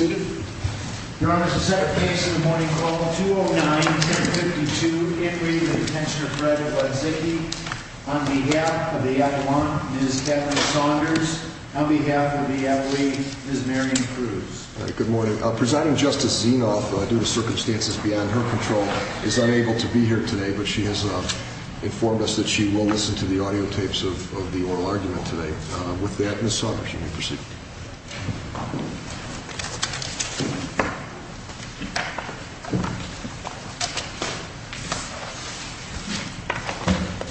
on behalf of the Avalon, Ms. Catherine Saunders, on behalf of the Avali, Ms. Marion Cruz. Good morning. Presiding Justice Zinov, due to circumstances beyond her control, is unable to be here today, but she has informed us that she will listen to the audio tapes of the oral argument today. With that, Ms. Saunders, you may proceed.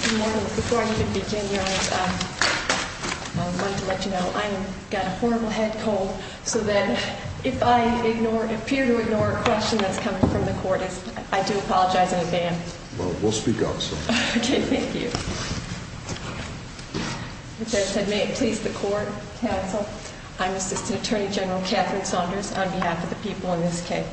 Good morning. Before I even begin, Your Honor, I wanted to let you know I've got a horrible head cold, so that if I appear to ignore a question that's coming from the court, I do apologize in advance. Well, we'll speak up, so. Okay, thank you. As I said, may it please the court, counsel, I'm Assistant Attorney General Catherine Saunders, on behalf of the people in this case.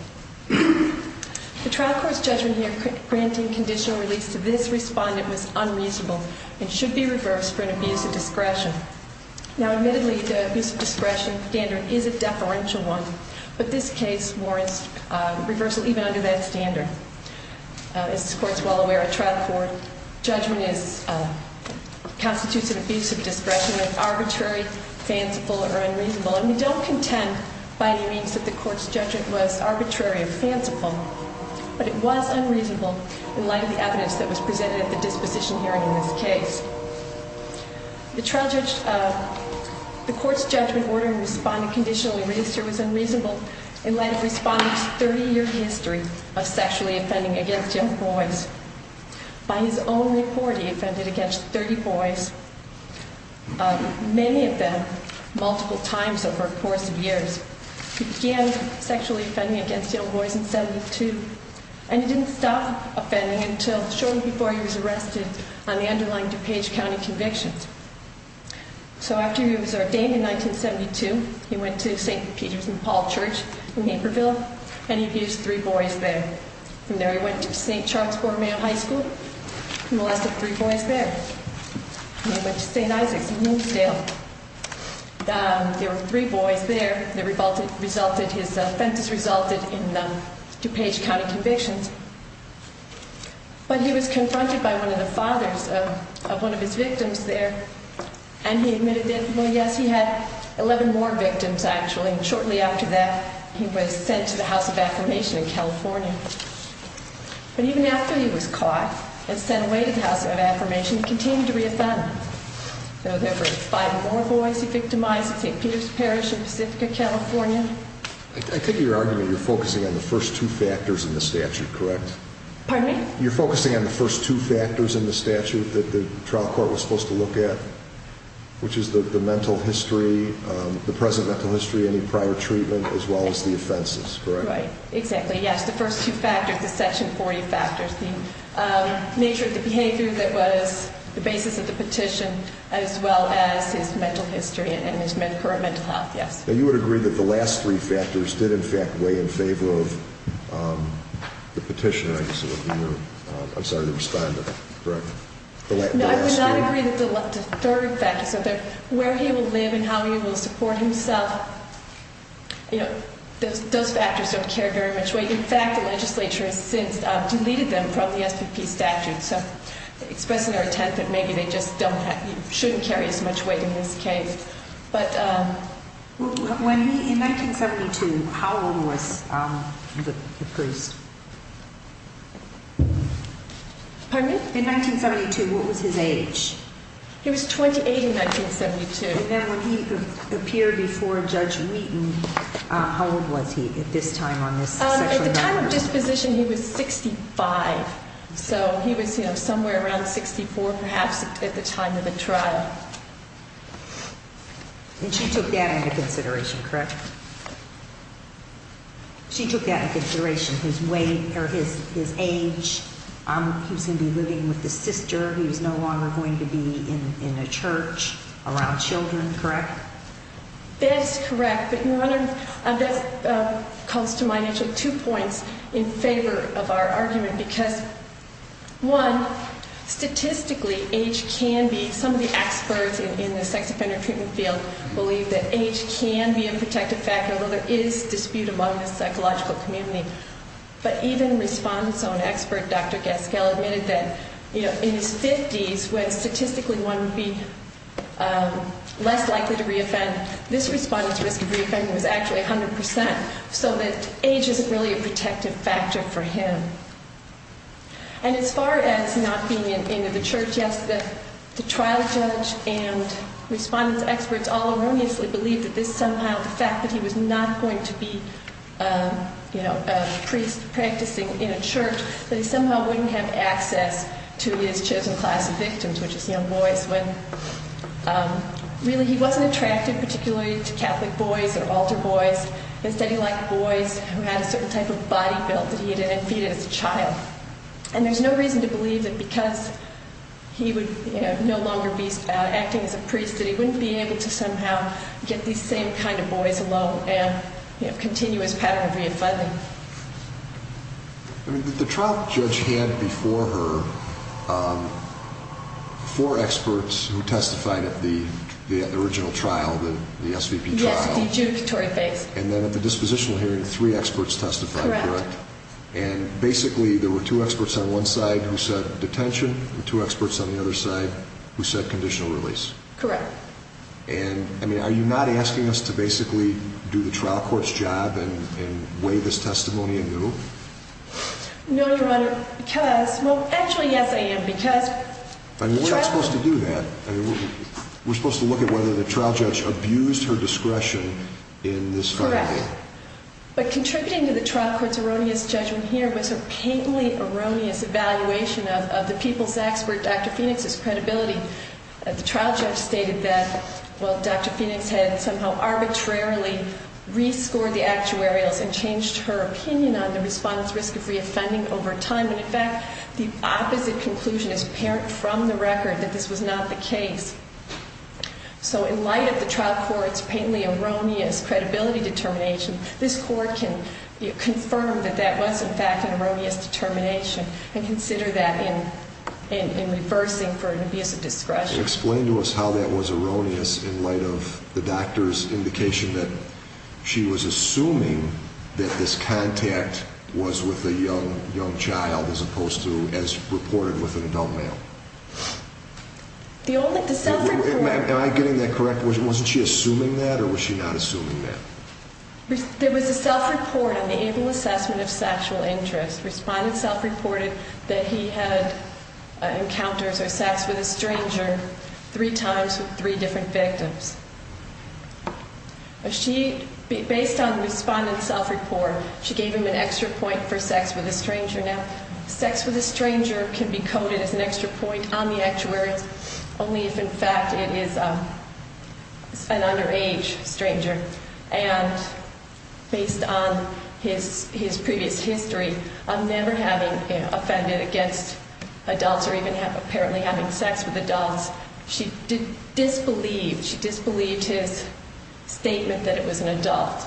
The trial court's judgment here granting conditional release to this respondent was unreasonable and should be reversed for an abuse of discretion. Now, admittedly, the abuse of discretion standard is a deferential one, but this case warrants reversal even under that standard. As this court is well aware, a trial court judgment constitutes an abuse of discretion that is arbitrary, fanciful, or unreasonable, and we don't contend by any means that the court's judgment was arbitrary or fanciful, but it was unreasonable in light of the evidence that was presented at the disposition hearing in this case. The court's judgment ordering a respondent conditionally released here was unreasonable in light of the respondent's 30-year history of sexually offending against young boys. By his own report, he offended against 30 boys, many of them multiple times over the course of years. He began sexually offending against young boys in 72, and he didn't stop offending until shortly before he was arrested on the underlying DuPage County convictions. So after he was ordained in 1972, he went to St. Peter's and Paul Church in Naperville, and he abused three boys there. From there, he went to St. Charles Borromeo High School and molested three boys there. Then he went to St. Isaac's in Moonsdale. There were three boys there. His offenses resulted in DuPage County convictions, but he was confronted by one of the fathers of one of his victims there, and he admitted that, well, yes, he had 11 more victims, actually, and shortly after that, he was sent to the House of Affirmation in California. But even after he was caught and sent away to the House of Affirmation, he continued to reoffend. There were five more boys he victimized at St. Peter's Parish in Pacifica, California. I take it you're arguing you're focusing on the first two factors in the statute, correct? Pardon me? You're focusing on the first two factors in the statute that the trial court was supposed to look at, which is the mental history, the present mental history, any prior treatment, as well as the offenses, correct? Right, exactly, yes, the first two factors, the Section 40 factors, the nature of the behavior that was the basis of the petition, as well as his mental history and his current mental health, yes. Now, you would agree that the last three factors did, in fact, weigh in favor of the petitioner, I guess it would be. I'm sorry to respond, but correct? No, I would not agree that the third factor, where he will live and how he will support himself, those factors don't carry very much weight. In fact, the legislature has since deleted them from the SPP statute, so expressing our intent that maybe they just shouldn't carry as much weight in this case. In 1972, how old was the priest? Pardon me? In 1972, what was his age? He was 28 in 1972. And then when he appeared before Judge Wheaton, how old was he at this time on this sexual assault charge? At the time of disposition, he was 65, so he was somewhere around 64, perhaps, at the time of the trial. And she took that into consideration, correct? She took that into consideration, his age, he was going to be living with his sister, he was no longer going to be in a church around children, correct? That's correct, but that calls to mind actually two points in favor of our argument, because, one, statistically, age can be, some of the experts in the sex offender treatment field believe that age can be a protective factor, although there is dispute among the psychological community. But even respondent's own expert, Dr. Gaskell, admitted that in his 50s, when statistically one would be less likely to reoffend, this respondent's risk of reoffending was actually 100%, so that age isn't really a protective factor for him. And as far as not being in the church, yes, the trial judge and respondent's experts all erroneously believe that this somehow, the fact that he was not going to be, you know, a priest practicing in a church, that he somehow wouldn't have access to his chosen class of victims, which is young boys, when really he wasn't attracted particularly to Catholic boys or altar boys. Instead, he liked boys who had a certain type of body build that he had defeated as a child. And there's no reason to believe that because he would, you know, no longer be acting as a priest, that he wouldn't be able to somehow get these same kind of boys along and, you know, continue his pattern of reoffending. The trial judge had before her four experts who testified at the original trial, the SVP trial. Yes, the adjudicatory phase. And then at the dispositional hearing, three experts testified, correct? Correct. And basically, there were two experts on one side who said detention, and two experts on the other side who said conditional release. Correct. And, I mean, are you not asking us to basically do the trial court's job and weigh this testimony anew? No, Your Honor, because, well, actually, yes, I am, because... And we're not supposed to do that. We're supposed to look at whether the trial judge abused her discretion in this finding. Correct. But contributing to the trial court's erroneous judgment here was a painfully erroneous evaluation of the people's expert, Dr. Phoenix's, credibility. The trial judge stated that, well, Dr. Phoenix had somehow arbitrarily rescored the actuarials and changed her opinion on the respondent's risk of reoffending over time. And, in fact, the opposite conclusion is apparent from the record, that this was not the case. So in light of the trial court's painfully erroneous credibility determination, this court can confirm that that was, in fact, an erroneous determination and consider that in reversing for an abuse of discretion. Explain to us how that was erroneous in light of the doctor's indication that she was assuming that this contact was with a young child as opposed to as reported with an adult male. The self-report... Am I getting that correct? Wasn't she assuming that, or was she not assuming that? There was a self-report on the able assessment of sexual interest. Respondent self-reported that he had encounters or sex with a stranger three times with three different victims. Based on the respondent's self-report, she gave him an extra point for sex with a stranger. Now, sex with a stranger can be coded as an extra point on the actuaries, only if, in fact, it is an underage stranger. And based on his previous history of never having offended against adults or even apparently having sex with adults, she disbelieved his statement that it was an adult.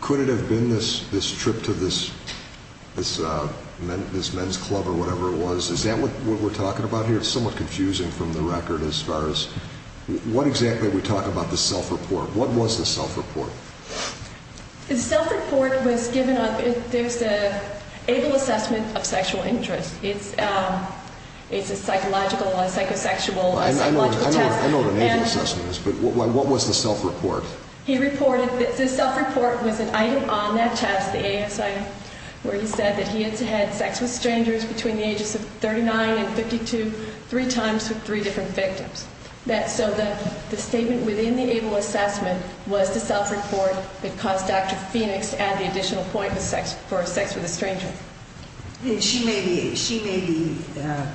Could it have been this trip to this men's club or whatever it was? Is that what we're talking about here? It's somewhat confusing from the record as far as what exactly we talk about the self-report. What was the self-report? The self-report was given on the able assessment of sexual interest. It's a psychological test. I know what an able assessment is, but what was the self-report? The self-report was an item on that test, the ASI, where he said that he had had sex with strangers between the ages of 39 and 52, three times with three different victims. So the statement within the able assessment was the self-report that caused Dr. Phoenix to add the additional point for sex with a stranger. She made the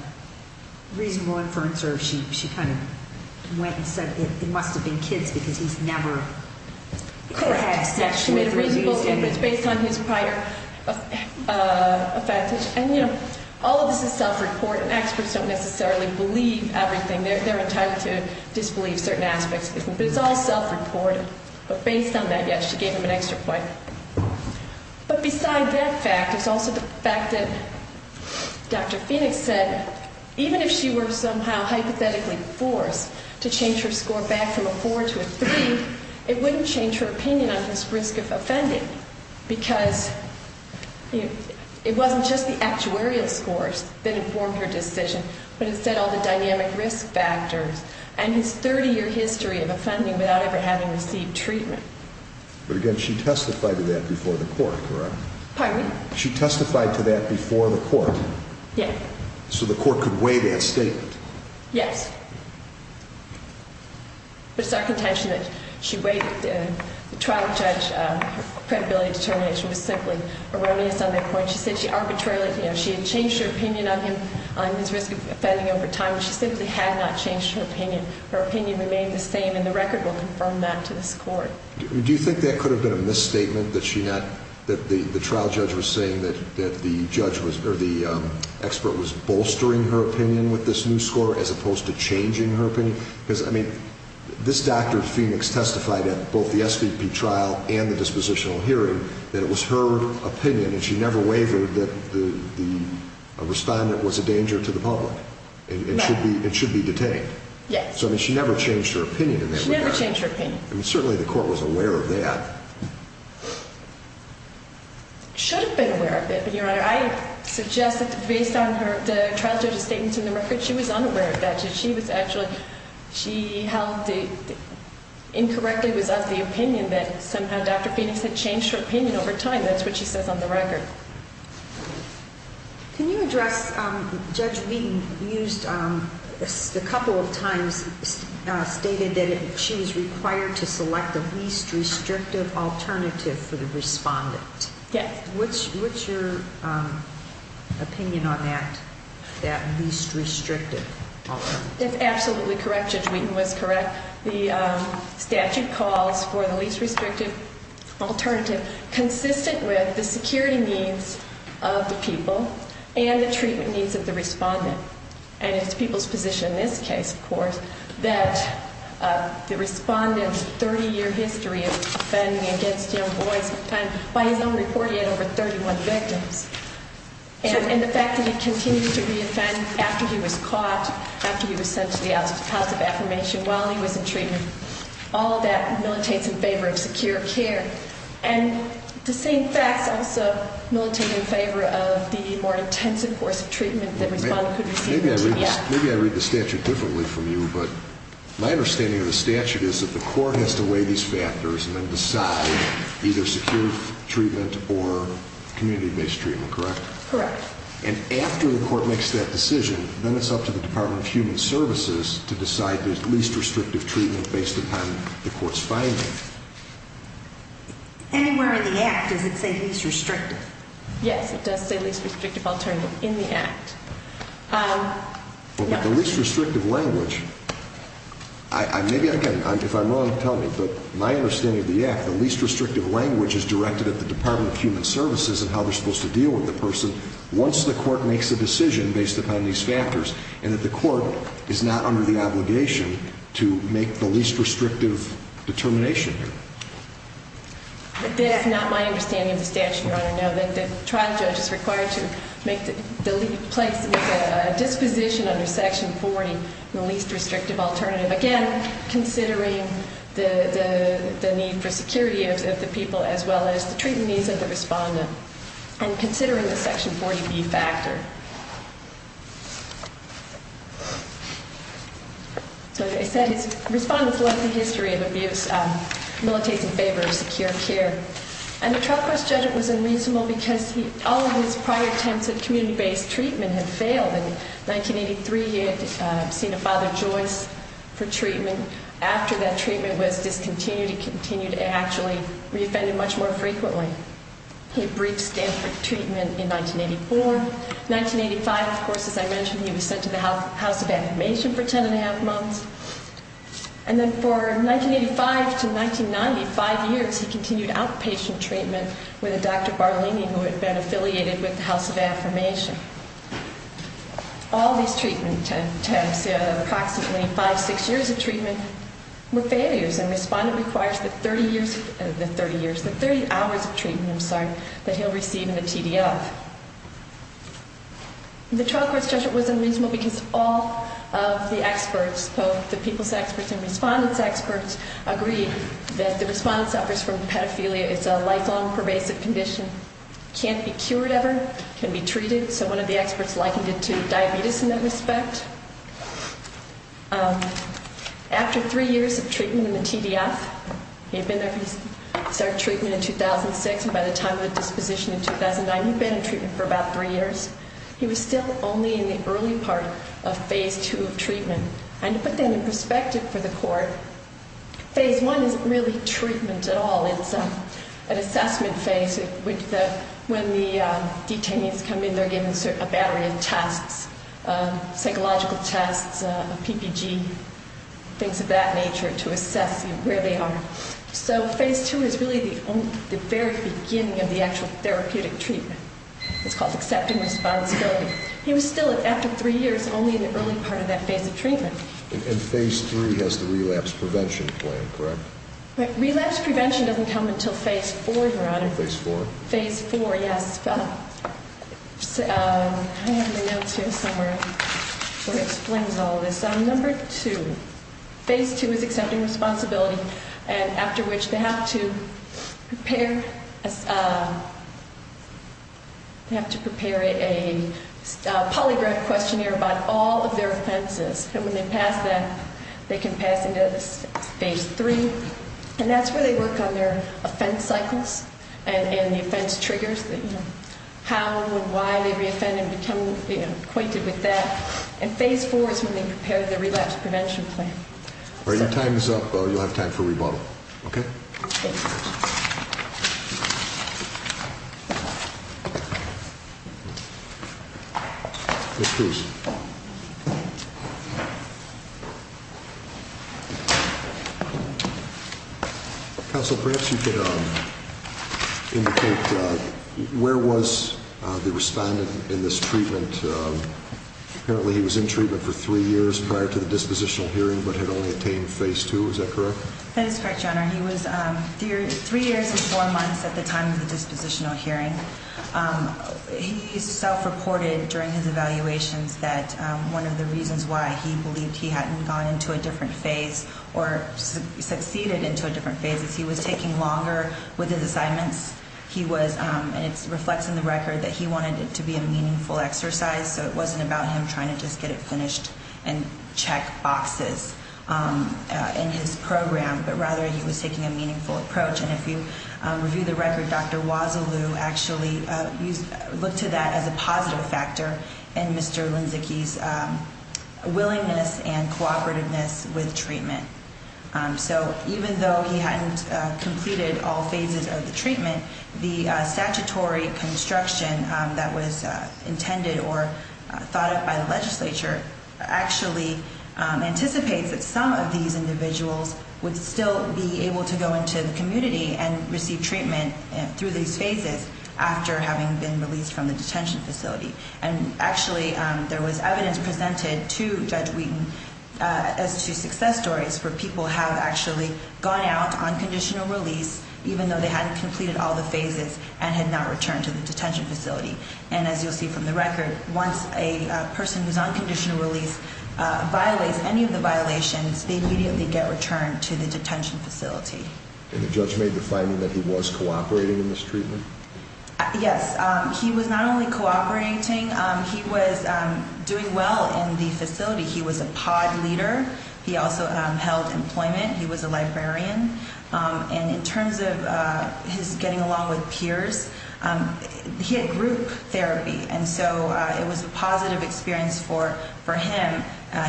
reasonable inference or she kind of went and said it must have been kids because he's never had sex with a woman. Correct. She made a reasonable inference based on his prior effect. And, you know, all of this is self-report, and experts don't necessarily believe everything. They're entitled to disbelieve certain aspects, but it's all self-reported. But based on that, yes, she gave him an extra point. But beside that fact, there's also the fact that Dr. Phoenix said even if she were somehow hypothetically forced to change her score back from a 4 to a 3, it wouldn't change her opinion on his risk of offending because it wasn't just the actuarial scores that informed her decision, but instead all the dynamic risk factors and his 30-year history of offending without ever having received treatment. But, again, she testified to that before the court, correct? Pardon me? She testified to that before the court? Yes. So the court could weigh that statement? Yes. But it's our contention that she weighed it. The trial judge, her credibility determination was simply erroneous on that point. She said she arbitrarily, you know, she had changed her opinion of him on his risk of offending over time, but she simply had not changed her opinion. Her opinion remained the same, and the record will confirm that to this court. Do you think that could have been a misstatement, that the trial judge was saying that the expert was bolstering her opinion with this new score as opposed to changing her opinion? Because, I mean, this Dr. Phoenix testified at both the SVP trial and the dispositional hearing that it was her opinion, and she never wavered, that the respondent was a danger to the public and should be detained. Yes. So, I mean, she never changed her opinion in that regard. She never changed her opinion. I mean, certainly the court was aware of that. Should have been aware of it, but, Your Honor, I suggest that based on the trial judge's statements in the record, she was unaware of that. She was actually, she held the, incorrectly was of the opinion that somehow Dr. Phoenix had changed her opinion over time. That's what she says on the record. Can you address, Judge Wheaton used, a couple of times stated that she was required to select the least restrictive alternative for the respondent. Yes. What's your opinion on that, that least restrictive alternative? That's absolutely correct. Judge Wheaton was correct. The statute calls for the least restrictive alternative consistent with the security needs of the people and the treatment needs of the respondent. And it's the people's position in this case, of course, that the respondent's 30-year history of offending against young boys by his own report he had over 31 victims. And the fact that he continued to reoffend after he was caught, after he was sent to the House of Affirmation, while he was in treatment, all of that militates in favor of secure care. And the same facts also militate in favor of the more intensive course of treatment that respondent could receive. Maybe I read the statute differently from you, but my understanding of the statute is that the court has to weigh these factors and then decide either secure treatment or community-based treatment, correct? Correct. And after the court makes that decision, then it's up to the Department of Human Services to decide the least restrictive treatment based upon the court's findings. Anywhere in the Act does it say least restrictive? Yes, it does say least restrictive alternative in the Act. Well, but the least restrictive language, maybe again, if I'm wrong, tell me, but my understanding of the Act, the least restrictive language is directed at the Department of Human Services and how they're supposed to deal with the person once the court makes a decision based upon these factors and that the court is not under the obligation to make the least restrictive determination here. This is not my understanding of the statute, Your Honor. No, the trial judge is required to make a disposition under Section 40, the least restrictive alternative, again, considering the need for security of the people as well as the treatment needs of the respondent and considering the Section 40B factor. So as I said, the respondent's lengthy history of abuse militates in favor of secure care, and the trial court's judgment was unreasonable because all of his prior attempts at community-based treatment had failed. In 1983, he had seen a Father Joyce for treatment. After that treatment was discontinued, he continued to actually be offended much more frequently. He briefed Stanford Treatment in 1984. In 1985, of course, as I mentioned, he was sent to the House of Affirmation for ten and a half months. And then for 1985 to 1990, five years, he continued outpatient treatment with a Dr. Barlini who had been affiliated with the House of Affirmation. All these treatment attempts, approximately five, six years of treatment, were failures, and respondent requires the 30 hours of treatment that he'll receive in the TDF. The trial court's judgment was unreasonable because all of the experts, both the people's experts and respondent's experts, agreed that the respondent suffers from pedophilia. It's a lifelong, pervasive condition. It can't be cured ever. It can't be treated. So one of the experts likened it to diabetes in that respect. After three years of treatment in the TDF, he had been there for his third treatment in 2006, and by the time of the disposition in 2009, he'd been in treatment for about three years. He was still only in the early part of phase two of treatment. And to put that in perspective for the court, phase one isn't really treatment at all. It's an assessment phase when the detainees come in. They're given a battery of tests, psychological tests, a PPG, things of that nature, to assess where they are. So phase two is really the very beginning of the actual therapeutic treatment. It's called accepting responsibility. He was still, after three years, only in the early part of that phase of treatment. And phase three has the relapse prevention plan, correct? Relapse prevention doesn't come until phase four, Your Honor. Phase four. Phase four, yes. I have the notes here somewhere where it explains all of this. Number two, phase two is accepting responsibility, and after which they have to prepare a polygraph questionnaire about all of their offenses. And when they pass that, they can pass into phase three. And that's where they work on their offense cycles and the offense triggers, how and why they reoffend and become acquainted with that. And phase four is when they prepare the relapse prevention plan. All right, your time is up. You'll have time for rebuttal, okay? Thank you, Your Honor. Counsel, perhaps you could indicate where was the respondent in this treatment? Apparently he was in treatment for three years prior to the dispositional hearing but had only attained phase two. Is that correct? That is correct, Your Honor. He was three years and four months at the time of the dispositional hearing. He self-reported during his evaluations that one of the reasons why he believed he hadn't gone into a different phase or succeeded into a different phase is he was taking longer with his assignments. And it reflects in the record that he wanted it to be a meaningful exercise, so it wasn't about him trying to just get it finished and check boxes in his program, but rather he was taking a meaningful approach. And if you review the record, Dr. Wazzaloo actually looked to that as a positive factor in Mr. Linczycki's willingness and cooperativeness with treatment. So even though he hadn't completed all phases of the treatment, the statutory construction that was intended or thought of by the legislature actually anticipates that some of these individuals would still be able to go into the community and receive treatment through these phases after having been released from the detention facility. And actually there was evidence presented to Judge Wheaton as to success stories where people have actually gone out on conditional release, even though they hadn't completed all the phases and had not returned to the detention facility. And as you'll see from the record, once a person who's on conditional release violates any of the violations, they immediately get returned to the detention facility. And the judge made the finding that he was cooperating in this treatment? Yes, he was not only cooperating, he was doing well in the facility. He was a pod leader. He also held employment. He was a librarian. And in terms of his getting along with peers, he had group therapy. And so it was a positive experience for him.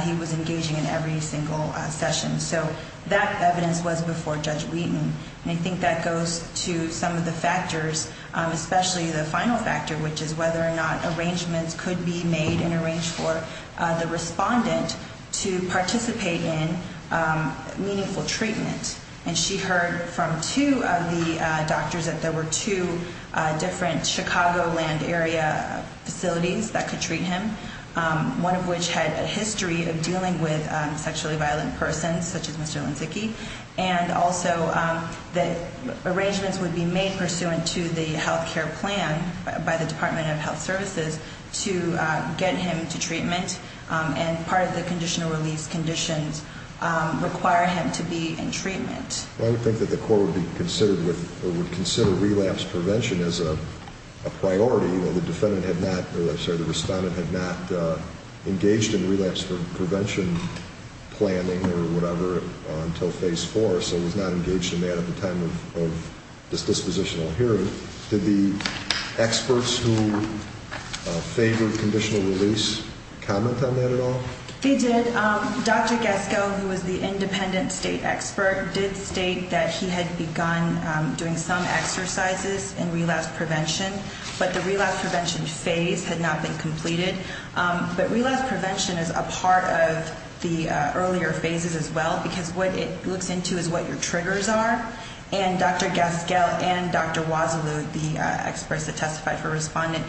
He was engaging in every single session. So that evidence was before Judge Wheaton. And I think that goes to some of the factors, especially the final factor, which is whether or not arrangements could be made and arranged for the respondent to participate in meaningful treatment. And she heard from two of the doctors that there were two different Chicagoland area facilities that could treat him, one of which had a history of dealing with sexually violent persons, such as Mr. Linczycki, and also that arrangements would be made pursuant to the health care plan by the Department of Health Services to get him to treatment. And part of the conditional release conditions require him to be in treatment. I would think that the court would consider relapse prevention as a priority. The respondent had not engaged in relapse prevention planning or whatever until Phase 4, so he was not engaged in that at the time of this dispositional hearing. Did the experts who favored conditional release comment on that at all? They did. Dr. Gaskell, who was the independent state expert, did state that he had begun doing some exercises in relapse prevention, but the relapse prevention phase had not been completed. But relapse prevention is a part of the earlier phases as well, because what it looks into is what your triggers are. And Dr. Gaskell and Dr. Wazalu, the experts that testified for the respondent,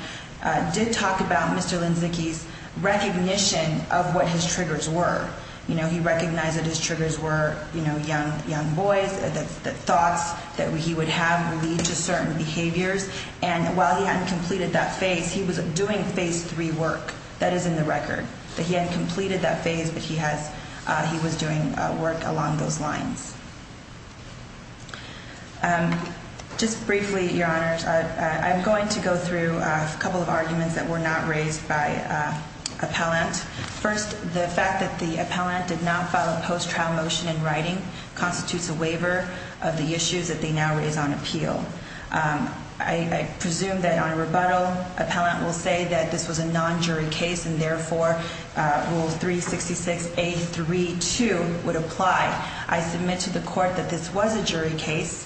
did talk about Mr. Linczycki's recognition of what his triggers were. You know, he recognized that his triggers were, you know, young boys, the thoughts that he would have would lead to certain behaviors. And while he hadn't completed that phase, he was doing Phase 3 work. That is in the record, that he hadn't completed that phase, but he was doing work along those lines. Just briefly, Your Honors, I'm going to go through a couple of arguments that were not raised by appellant. First, the fact that the appellant did not file a post-trial motion in writing constitutes a waiver of the issues that they now raise on appeal. I presume that on a rebuttal, appellant will say that this was a non-jury case and, therefore, Rule 366A.3.2 would apply. I submit to the court that this was a jury case,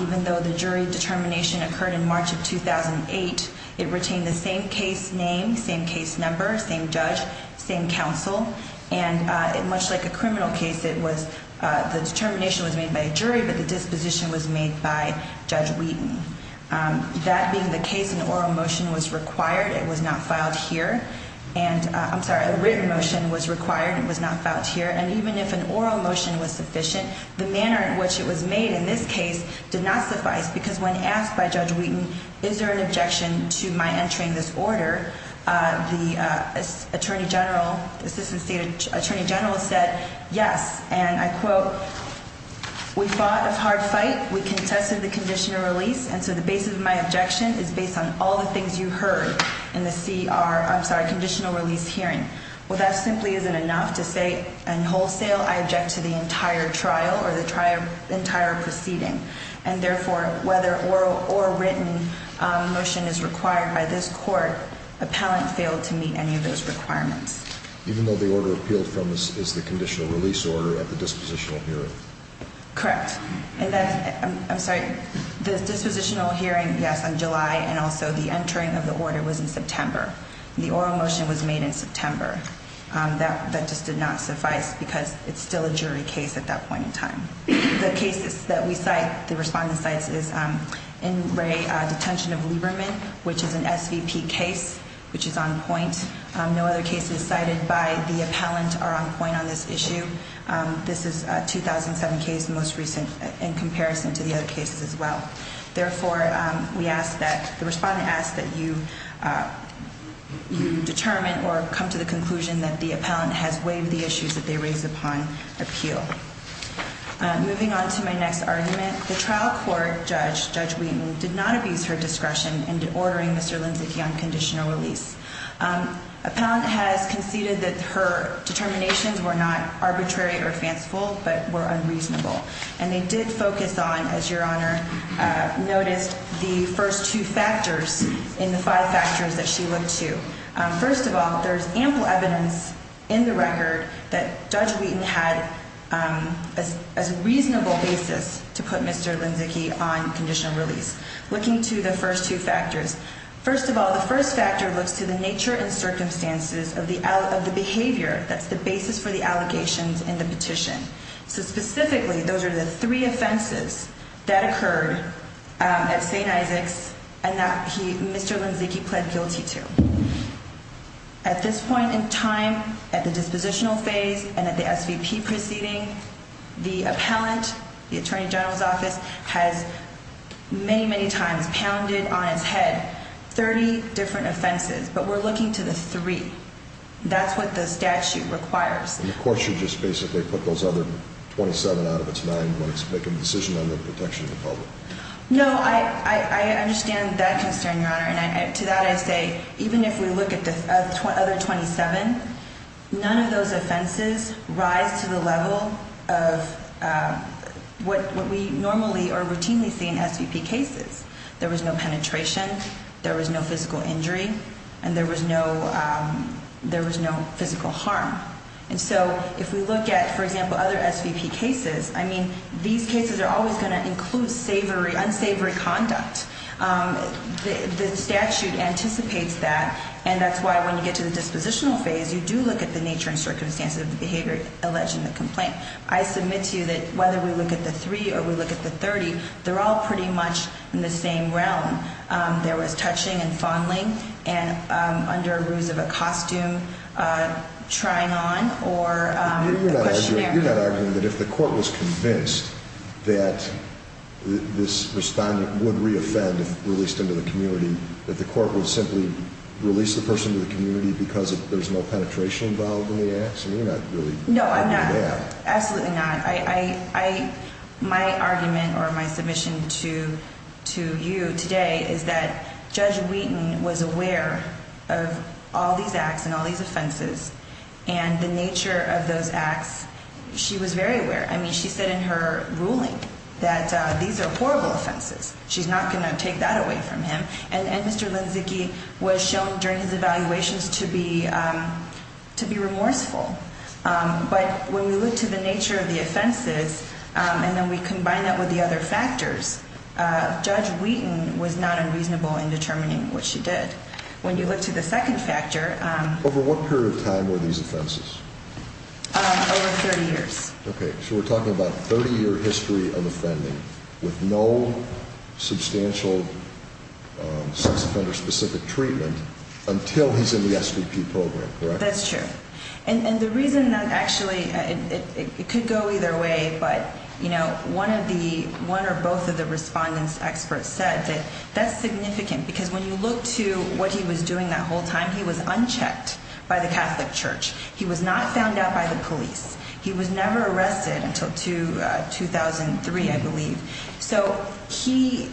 even though the jury determination occurred in March of 2008. It retained the same case name, same case number, same judge, same counsel. And much like a criminal case, the determination was made by a jury, but the disposition was made by Judge Wheaton. That being the case, an oral motion was required. It was not filed here. I'm sorry, a written motion was required. It was not filed here. And even if an oral motion was sufficient, the manner in which it was made in this case did not suffice, because when asked by Judge Wheaton, is there an objection to my entering this order, the Attorney General, the Assistant State Attorney General said, yes. And I quote, we fought a hard fight. We contested the conditional release. And so the basis of my objection is based on all the things you heard in the CR, I'm sorry, conditional release hearing. Well, that simply isn't enough to say in wholesale I object to the entire trial or the entire proceeding. And therefore, whether oral or written motion is required by this court, appellant failed to meet any of those requirements. Even though the order appealed from is the conditional release order at the dispositional hearing? Correct. I'm sorry, the dispositional hearing, yes, on July, and also the entering of the order was in September. The oral motion was made in September. That just did not suffice, because it's still a jury case at that point in time. The cases that we cite, the respondent cites is in Ray, detention of Lieberman, which is an SVP case, which is on point. No other cases cited by the appellant are on point on this issue. This is a 2007 case, the most recent in comparison to the other cases as well. Therefore, we ask that the respondent ask that you determine or come to the conclusion that the appellant has waived the issues that they raised upon appeal. Moving on to my next argument. The trial court judge, Judge Wheaton, did not abuse her discretion in ordering Mr. Limczyk the unconditional release. Appellant has conceded that her determinations were not arbitrary or fanciful, but were unreasonable. And they did focus on, as your Honor noticed, the first two factors in the five factors that she looked to. First of all, there's ample evidence in the record that Judge Wheaton had a reasonable basis to put Mr. Limczyk on conditional release. Looking to the first two factors. First of all, the first factor looks to the nature and circumstances of the behavior that's the basis for the allegations in the petition. So specifically, those are the three offenses that occurred at St. Isaac's and that Mr. Limczyk pled guilty to. At this point in time, at the dispositional phase and at the SVP proceeding, the appellant, the Attorney General's office, has many, many times pounded on his head 30 different offenses. But we're looking to the three. That's what the statute requires. And of course, you just basically put those other 27 out of its nine when it's making a decision on the protection of the public. No, I understand that concern, your Honor. And to that I say, even if we look at the other 27, none of those offenses rise to the level of what we normally or routinely see in SVP cases. There was no penetration. There was no physical injury. And there was no physical harm. And so if we look at, for example, other SVP cases, I mean, these cases are always going to include unsavory conduct. The statute anticipates that, and that's why when you get to the dispositional phase, you do look at the nature and circumstances of the behavior alleged in the complaint. I submit to you that whether we look at the three or we look at the 30, they're all pretty much in the same realm. There was touching and fondling under a ruse of a costume, trying on or a questionnaire. You're not arguing that if the court was convinced that this respondent would reoffend if released into the community, that the court would simply release the person to the community because there's no penetration involved in the act? I mean, you're not really arguing that. No, I'm not. Absolutely not. My argument or my submission to you today is that Judge Wheaton was aware of all these acts and all these offenses and the nature of those acts. She was very aware. I mean, she said in her ruling that these are horrible offenses. She's not going to take that away from him. And Mr. Linzicki was shown during his evaluations to be remorseful. But when we look to the nature of the offenses and then we combine that with the other factors, Judge Wheaton was not unreasonable in determining what she did. When you look to the second factor. Over what period of time were these offenses? Over 30 years. Okay. So we're talking about 30-year history of offending with no substantial sex offender-specific treatment until he's in the SVP program, correct? That's true. And the reason that actually it could go either way, but one or both of the respondents' experts said that that's significant because when you look to what he was doing that whole time, he was unchecked by the Catholic Church. He was not found out by the police. He was never arrested until 2003, I believe. So he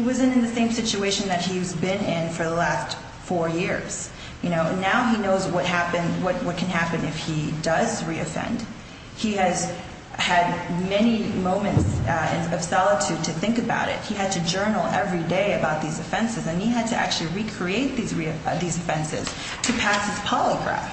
wasn't in the same situation that he's been in for the last four years. Now he knows what can happen if he does reoffend. He has had many moments of solitude to think about it. He had to journal every day about these offenses, and he had to actually recreate these offenses to pass his polygraph.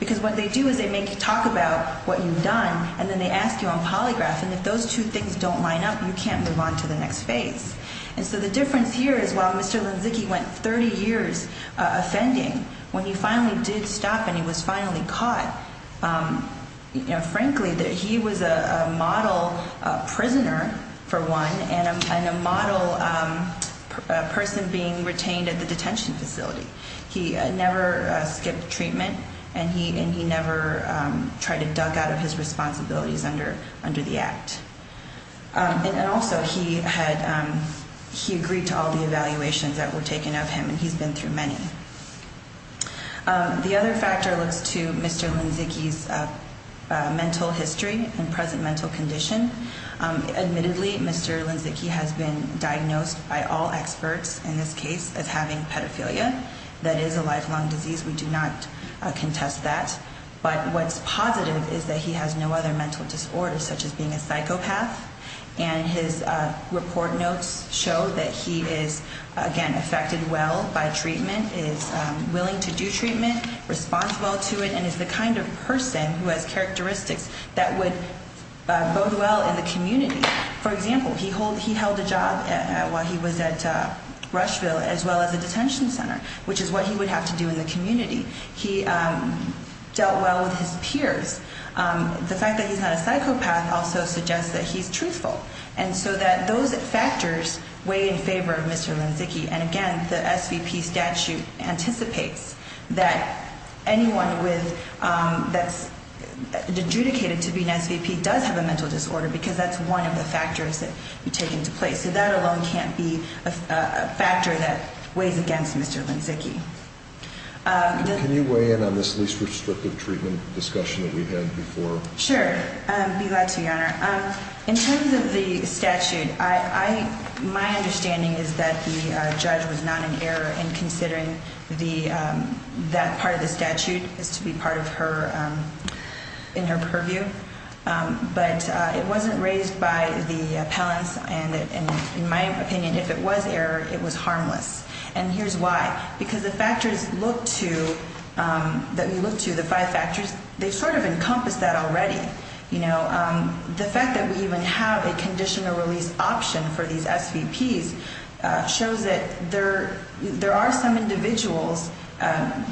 Because what they do is they make you talk about what you've done, and then they ask you on polygraph, and if those two things don't line up, you can't move on to the next phase. And so the difference here is while Mr. Lenzicki went 30 years offending, when he finally did stop and he was finally caught, frankly, he was a model prisoner, for one, and a model person being retained at the detention facility. He never skipped treatment, and he never tried to duck out of his responsibilities under the act. And also, he agreed to all the evaluations that were taken of him, and he's been through many. The other factor looks to Mr. Lenzicki's mental history and present mental condition. Admittedly, Mr. Lenzicki has been diagnosed by all experts in this case as having pedophilia. That is a lifelong disease. We do not contest that. But what's positive is that he has no other mental disorders, such as being a psychopath. And his report notes show that he is, again, affected well by treatment, is willing to do treatment, responsible to it, and is the kind of person who has characteristics that would bode well in the community. For example, he held a job while he was at Rushville as well as a detention center, which is what he would have to do in the community. He dealt well with his peers. The fact that he's not a psychopath also suggests that he's truthful. And so that those factors weigh in favor of Mr. Lenzicki. And, again, the SVP statute anticipates that anyone that's adjudicated to be an SVP does have a mental disorder because that's one of the factors that you take into place. So that alone can't be a factor that weighs against Mr. Lenzicki. Can you weigh in on this least restrictive treatment discussion that we've had before? Sure. Be glad to, Your Honor. In terms of the statute, my understanding is that the judge was not in error in considering that part of the statute as to be part of her – in her purview. But it wasn't raised by the appellants. And in my opinion, if it was error, it was harmless. And here's why. Because the factors look to – that we look to, the five factors, they sort of encompass that already. You know, the fact that we even have a conditional release option for these SVPs shows that there are some individuals,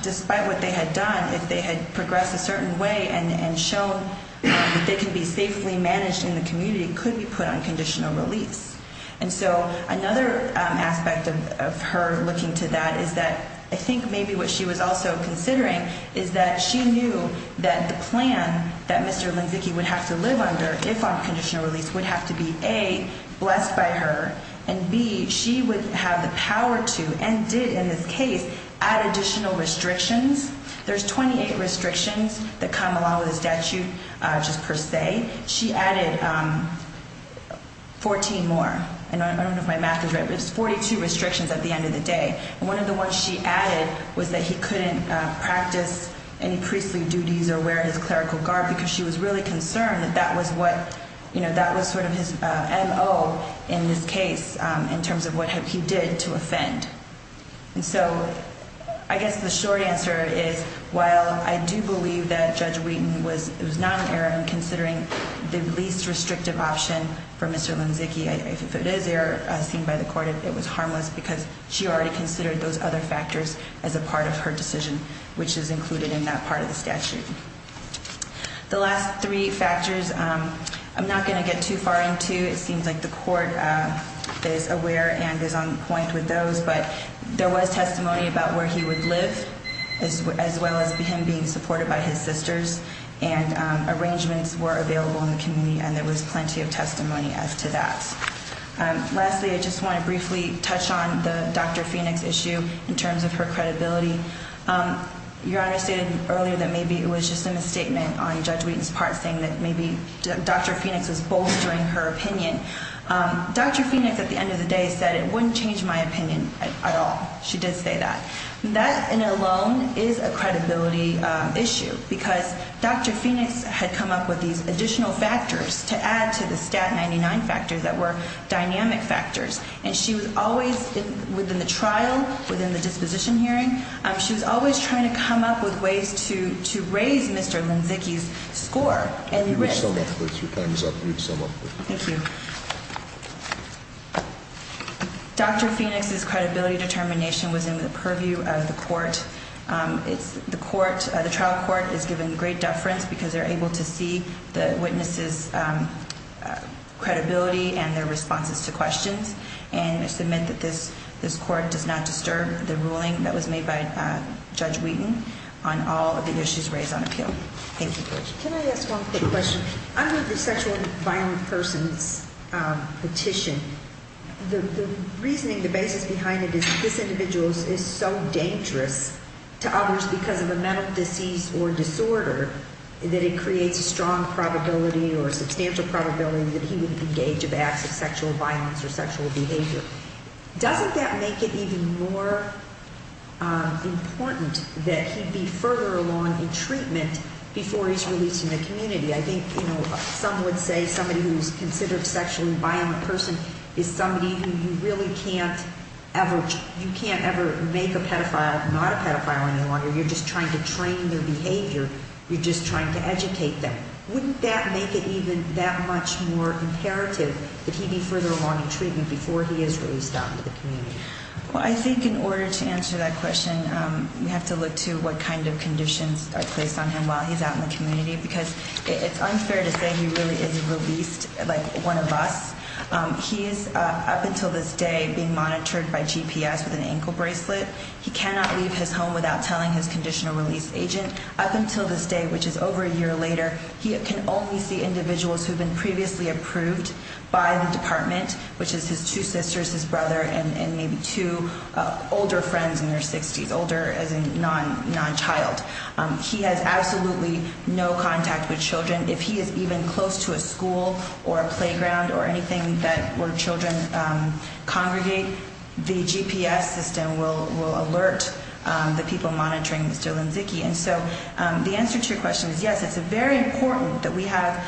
despite what they had done, if they had progressed a certain way and shown that they can be safely managed in the community, could be put on conditional release. And so another aspect of her looking to that is that I think maybe what she was also considering is that she knew that the plan that Mr. Lenzicki would have to live under if on conditional release would have to be, A, blessed by her, and, B, she would have the power to and did in this case add additional restrictions. There's 28 restrictions that come along with the statute just per se. She added 14 more. I don't know if my math is right, but it's 42 restrictions at the end of the day. And one of the ones she added was that he couldn't practice any priestly duties or wear his clerical garb because she was really concerned that that was what – you know, that was sort of his MO in this case in terms of what he did to offend. And so I guess the short answer is while I do believe that Judge Wheaton was not an error in considering the least restrictive option for Mr. Lenzicki, if it is an error seen by the court, it was harmless because she already considered those other factors as a part of her decision, which is included in that part of the statute. The last three factors I'm not going to get too far into. It seems like the court is aware and is on point with those. But there was testimony about where he would live as well as him being supported by his sisters. And arrangements were available in the community, and there was plenty of testimony as to that. Lastly, I just want to briefly touch on the Dr. Phoenix issue in terms of her credibility. Your Honor stated earlier that maybe it was just a misstatement on Judge Wheaton's part saying that maybe Dr. Phoenix was bolstering her opinion. Dr. Phoenix, at the end of the day, said it wouldn't change my opinion at all. She did say that. That alone is a credibility issue because Dr. Phoenix had come up with these additional factors to add to the Stat 99 factors that were dynamic factors. And she was always, within the trial, within the disposition hearing, she was always trying to come up with ways to raise Mr. Linzycki's score and risk. If you would sum up, please. Your time is up. Thank you. Dr. Phoenix's credibility determination was in the purview of the court. The trial court is given great deference because they're able to see the witnesses' credibility and their responses to questions. And I submit that this court does not disturb the ruling that was made by Judge Wheaton on all of the issues raised on appeal. Thank you. Can I ask one quick question? Under the sexual and violent persons petition, the reasoning, the basis behind it is this individual is so dangerous to others because of a mental disease or disorder that it creates a strong probability or a substantial probability that he would engage in acts of sexual violence or sexual behavior. Doesn't that make it even more important that he be further along in treatment before he's released from the community? I think, you know, some would say somebody who's considered a sexually violent person is somebody who you really can't ever make a pedophile not a pedophile any longer. You're just trying to train their behavior. You're just trying to educate them. Wouldn't that make it even that much more imperative that he be further along in treatment before he is released out into the community? Well, I think in order to answer that question, we have to look to what kind of conditions are placed on him while he's out in the community because it's unfair to say he really is released like one of us. He is up until this day being monitored by GPS with an ankle bracelet. He cannot leave his home without telling his conditional release agent. Up until this day, which is over a year later, he can only see individuals who have been previously approved by the department, which is his two sisters, his brother, and maybe two older friends in their 60s, older as in non-child. He has absolutely no contact with children. If he is even close to a school or a playground or anything that where children congregate, the GPS system will alert the people monitoring Mr. Linzycki. And so the answer to your question is yes, it's very important that we have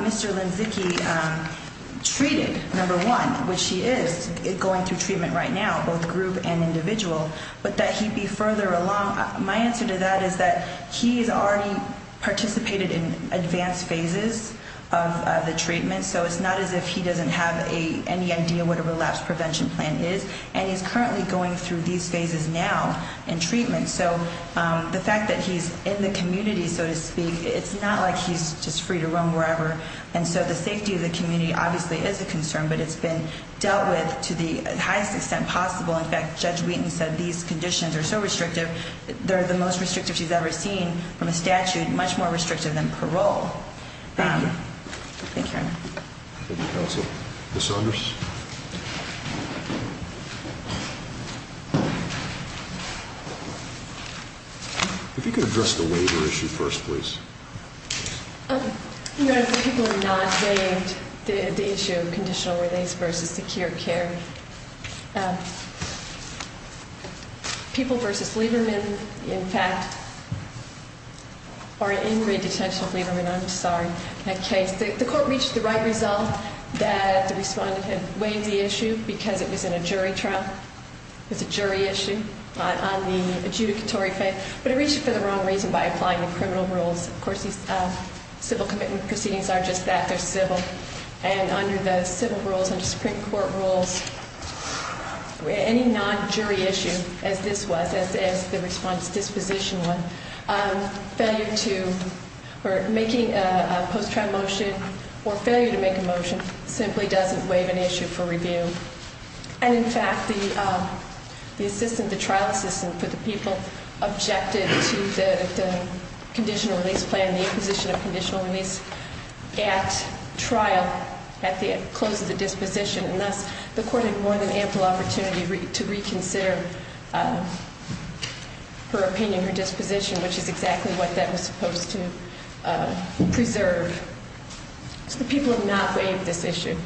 Mr. Linzycki treated, number one, which he is going through treatment right now, both group and individual, but that he be further along. My answer to that is that he's already participated in advanced phases of the treatment, so it's not as if he doesn't have any idea what a relapse prevention plan is, and he's currently going through these phases now in treatment. So the fact that he's in the community, so to speak, it's not like he's just free to roam wherever. And so the safety of the community obviously is a concern, but it's been dealt with to the highest extent possible. In fact, Judge Wheaton said these conditions are so restrictive, they're the most restrictive she's ever seen from a statute, much more restrictive than parole. Thank you. Thank you, Your Honor. Thank you, counsel. Ms. Saunders. If you could address the waiver issue first, please. Your Honor, the people have not waived the issue of conditional release versus secure care. People versus Lieberman, in fact, are in redetention of Lieberman. I'm sorry. The court reached the right result that the respondent had waived the issue because it was in a jury trial. It was a jury issue on the adjudicatory. But it reached it for the wrong reason by applying the criminal rules. Of course, these civil commitment proceedings are just that, they're civil. And under the civil rules, under Supreme Court rules, any non-jury issue, as this was, as the response disposition one, failure to make a post-trial motion or failure to make a motion simply doesn't waive an issue for review. And, in fact, the trial assistant for the people objected to the conditional release plan, the imposition of conditional release at trial, at the close of the disposition. And thus, the court had more than ample opportunity to reconsider her opinion, her disposition, which is exactly what that was supposed to preserve. So the people have not waived this issue.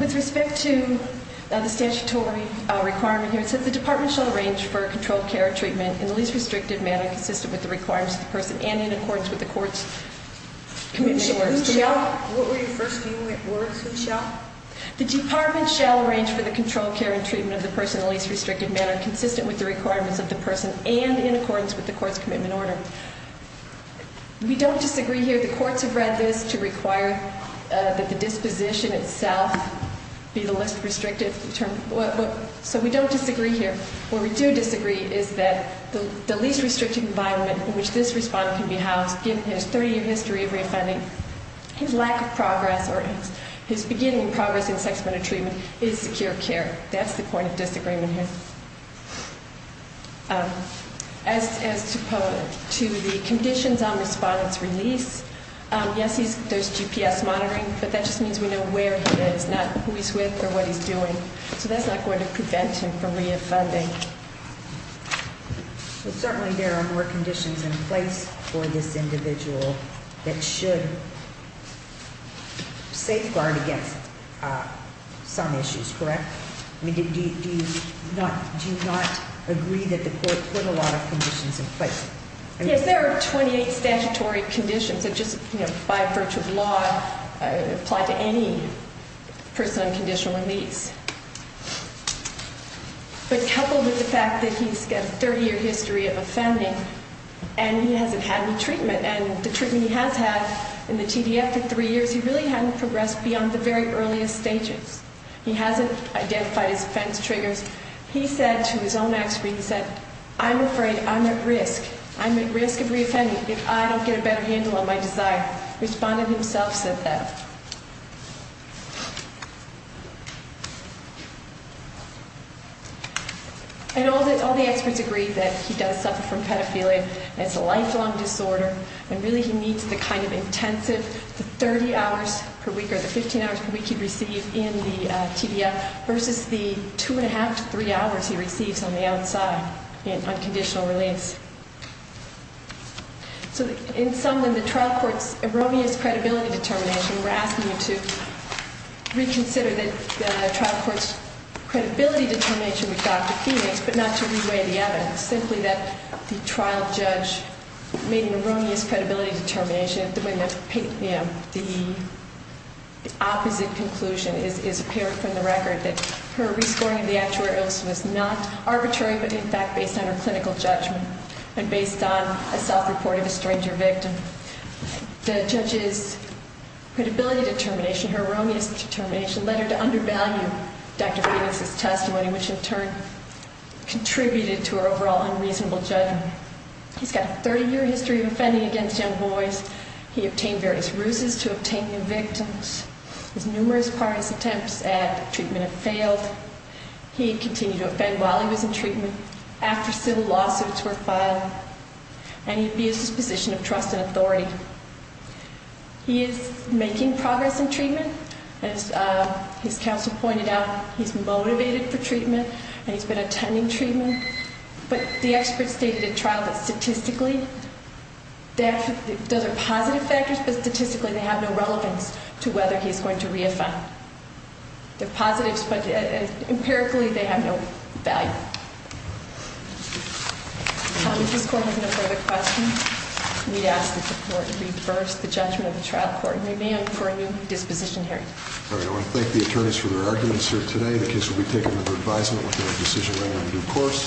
With respect to the statutory requirement here, it says, The department shall arrange for controlled care and treatment in the least restricted manner, consistent with the requirements of the person and in accordance with the court's commitment and order. Who shall? What were your first few words, who shall? The department shall arrange for the controlled care and treatment of the person in the least restricted manner, consistent with the requirements of the person, and in accordance with the court's commitment and order. We don't disagree here. The courts have read this to require that the disposition itself be the least restricted. So we don't disagree here. What we do disagree is that the least restricted environment in which this respondent can be housed, given his 30-year history of reoffending, his lack of progress, or his beginning progress in sex-medicated treatment is secure care. That's the point of disagreement here. As to the conditions on respondent's release, yes, there's GPS monitoring, but that just means we know where he is, not who he's with or what he's doing. So that's not going to prevent him from reoffending. Certainly there are more conditions in place for this individual that should safeguard against some issues, correct? Do you not agree that the court put a lot of conditions in place? Yes, there are 28 statutory conditions that just by virtue of law apply to any person on conditional release. But coupled with the fact that he's got a 30-year history of offending and he hasn't had any treatment, and the treatment he has had in the TDF for three years, he really hasn't progressed beyond the very earliest stages. He hasn't identified his offense triggers. He said to his own expert, he said, I'm afraid I'm at risk. I'm at risk of reoffending if I don't get a better handle on my desire. Respondent himself said that. And all the experts agree that he does suffer from pedophilia, and it's a lifelong disorder, and really he needs the kind of intensive, the 30 hours per week or the 15 hours per week he'd receive in the TDF versus the two and a half to three hours he receives on the outside in unconditional release. So in summing, the trial court's erroneous credibility determination, we're asking you to reconsider the trial court's credibility determination with Dr. Phoenix, but not to reweigh the evidence, simply that the trial judge made an erroneous credibility determination when the opposite conclusion is apparent from the record, that her rescoring of the actuarial illness was not arbitrary but in fact based on her clinical judgment and based on a self-report of a stranger victim. The judge's credibility determination, her erroneous determination, led her to undervalue Dr. Phoenix's testimony, which in turn contributed to her overall unreasonable judgment. He's got a 30-year history of offending against young boys. He obtained various ruses to obtain new victims. His numerous parties' attempts at treatment have failed. He continued to offend while he was in treatment, after civil lawsuits were filed, and he abused his position of trust and authority. He is making progress in treatment. As his counsel pointed out, he's motivated for treatment and he's been attending treatment, but the experts stated at trial that statistically those are positive factors, but statistically they have no relevance to whether he's going to reoffend. They're positives, but empirically they have no value. If this court has no further questions, we'd ask that the court reverse the judgment of the trial court and demand for a new disposition hearing. All right, I want to thank the attorneys for their arguments here today. The case will be taken under advisement with no decision made on due course.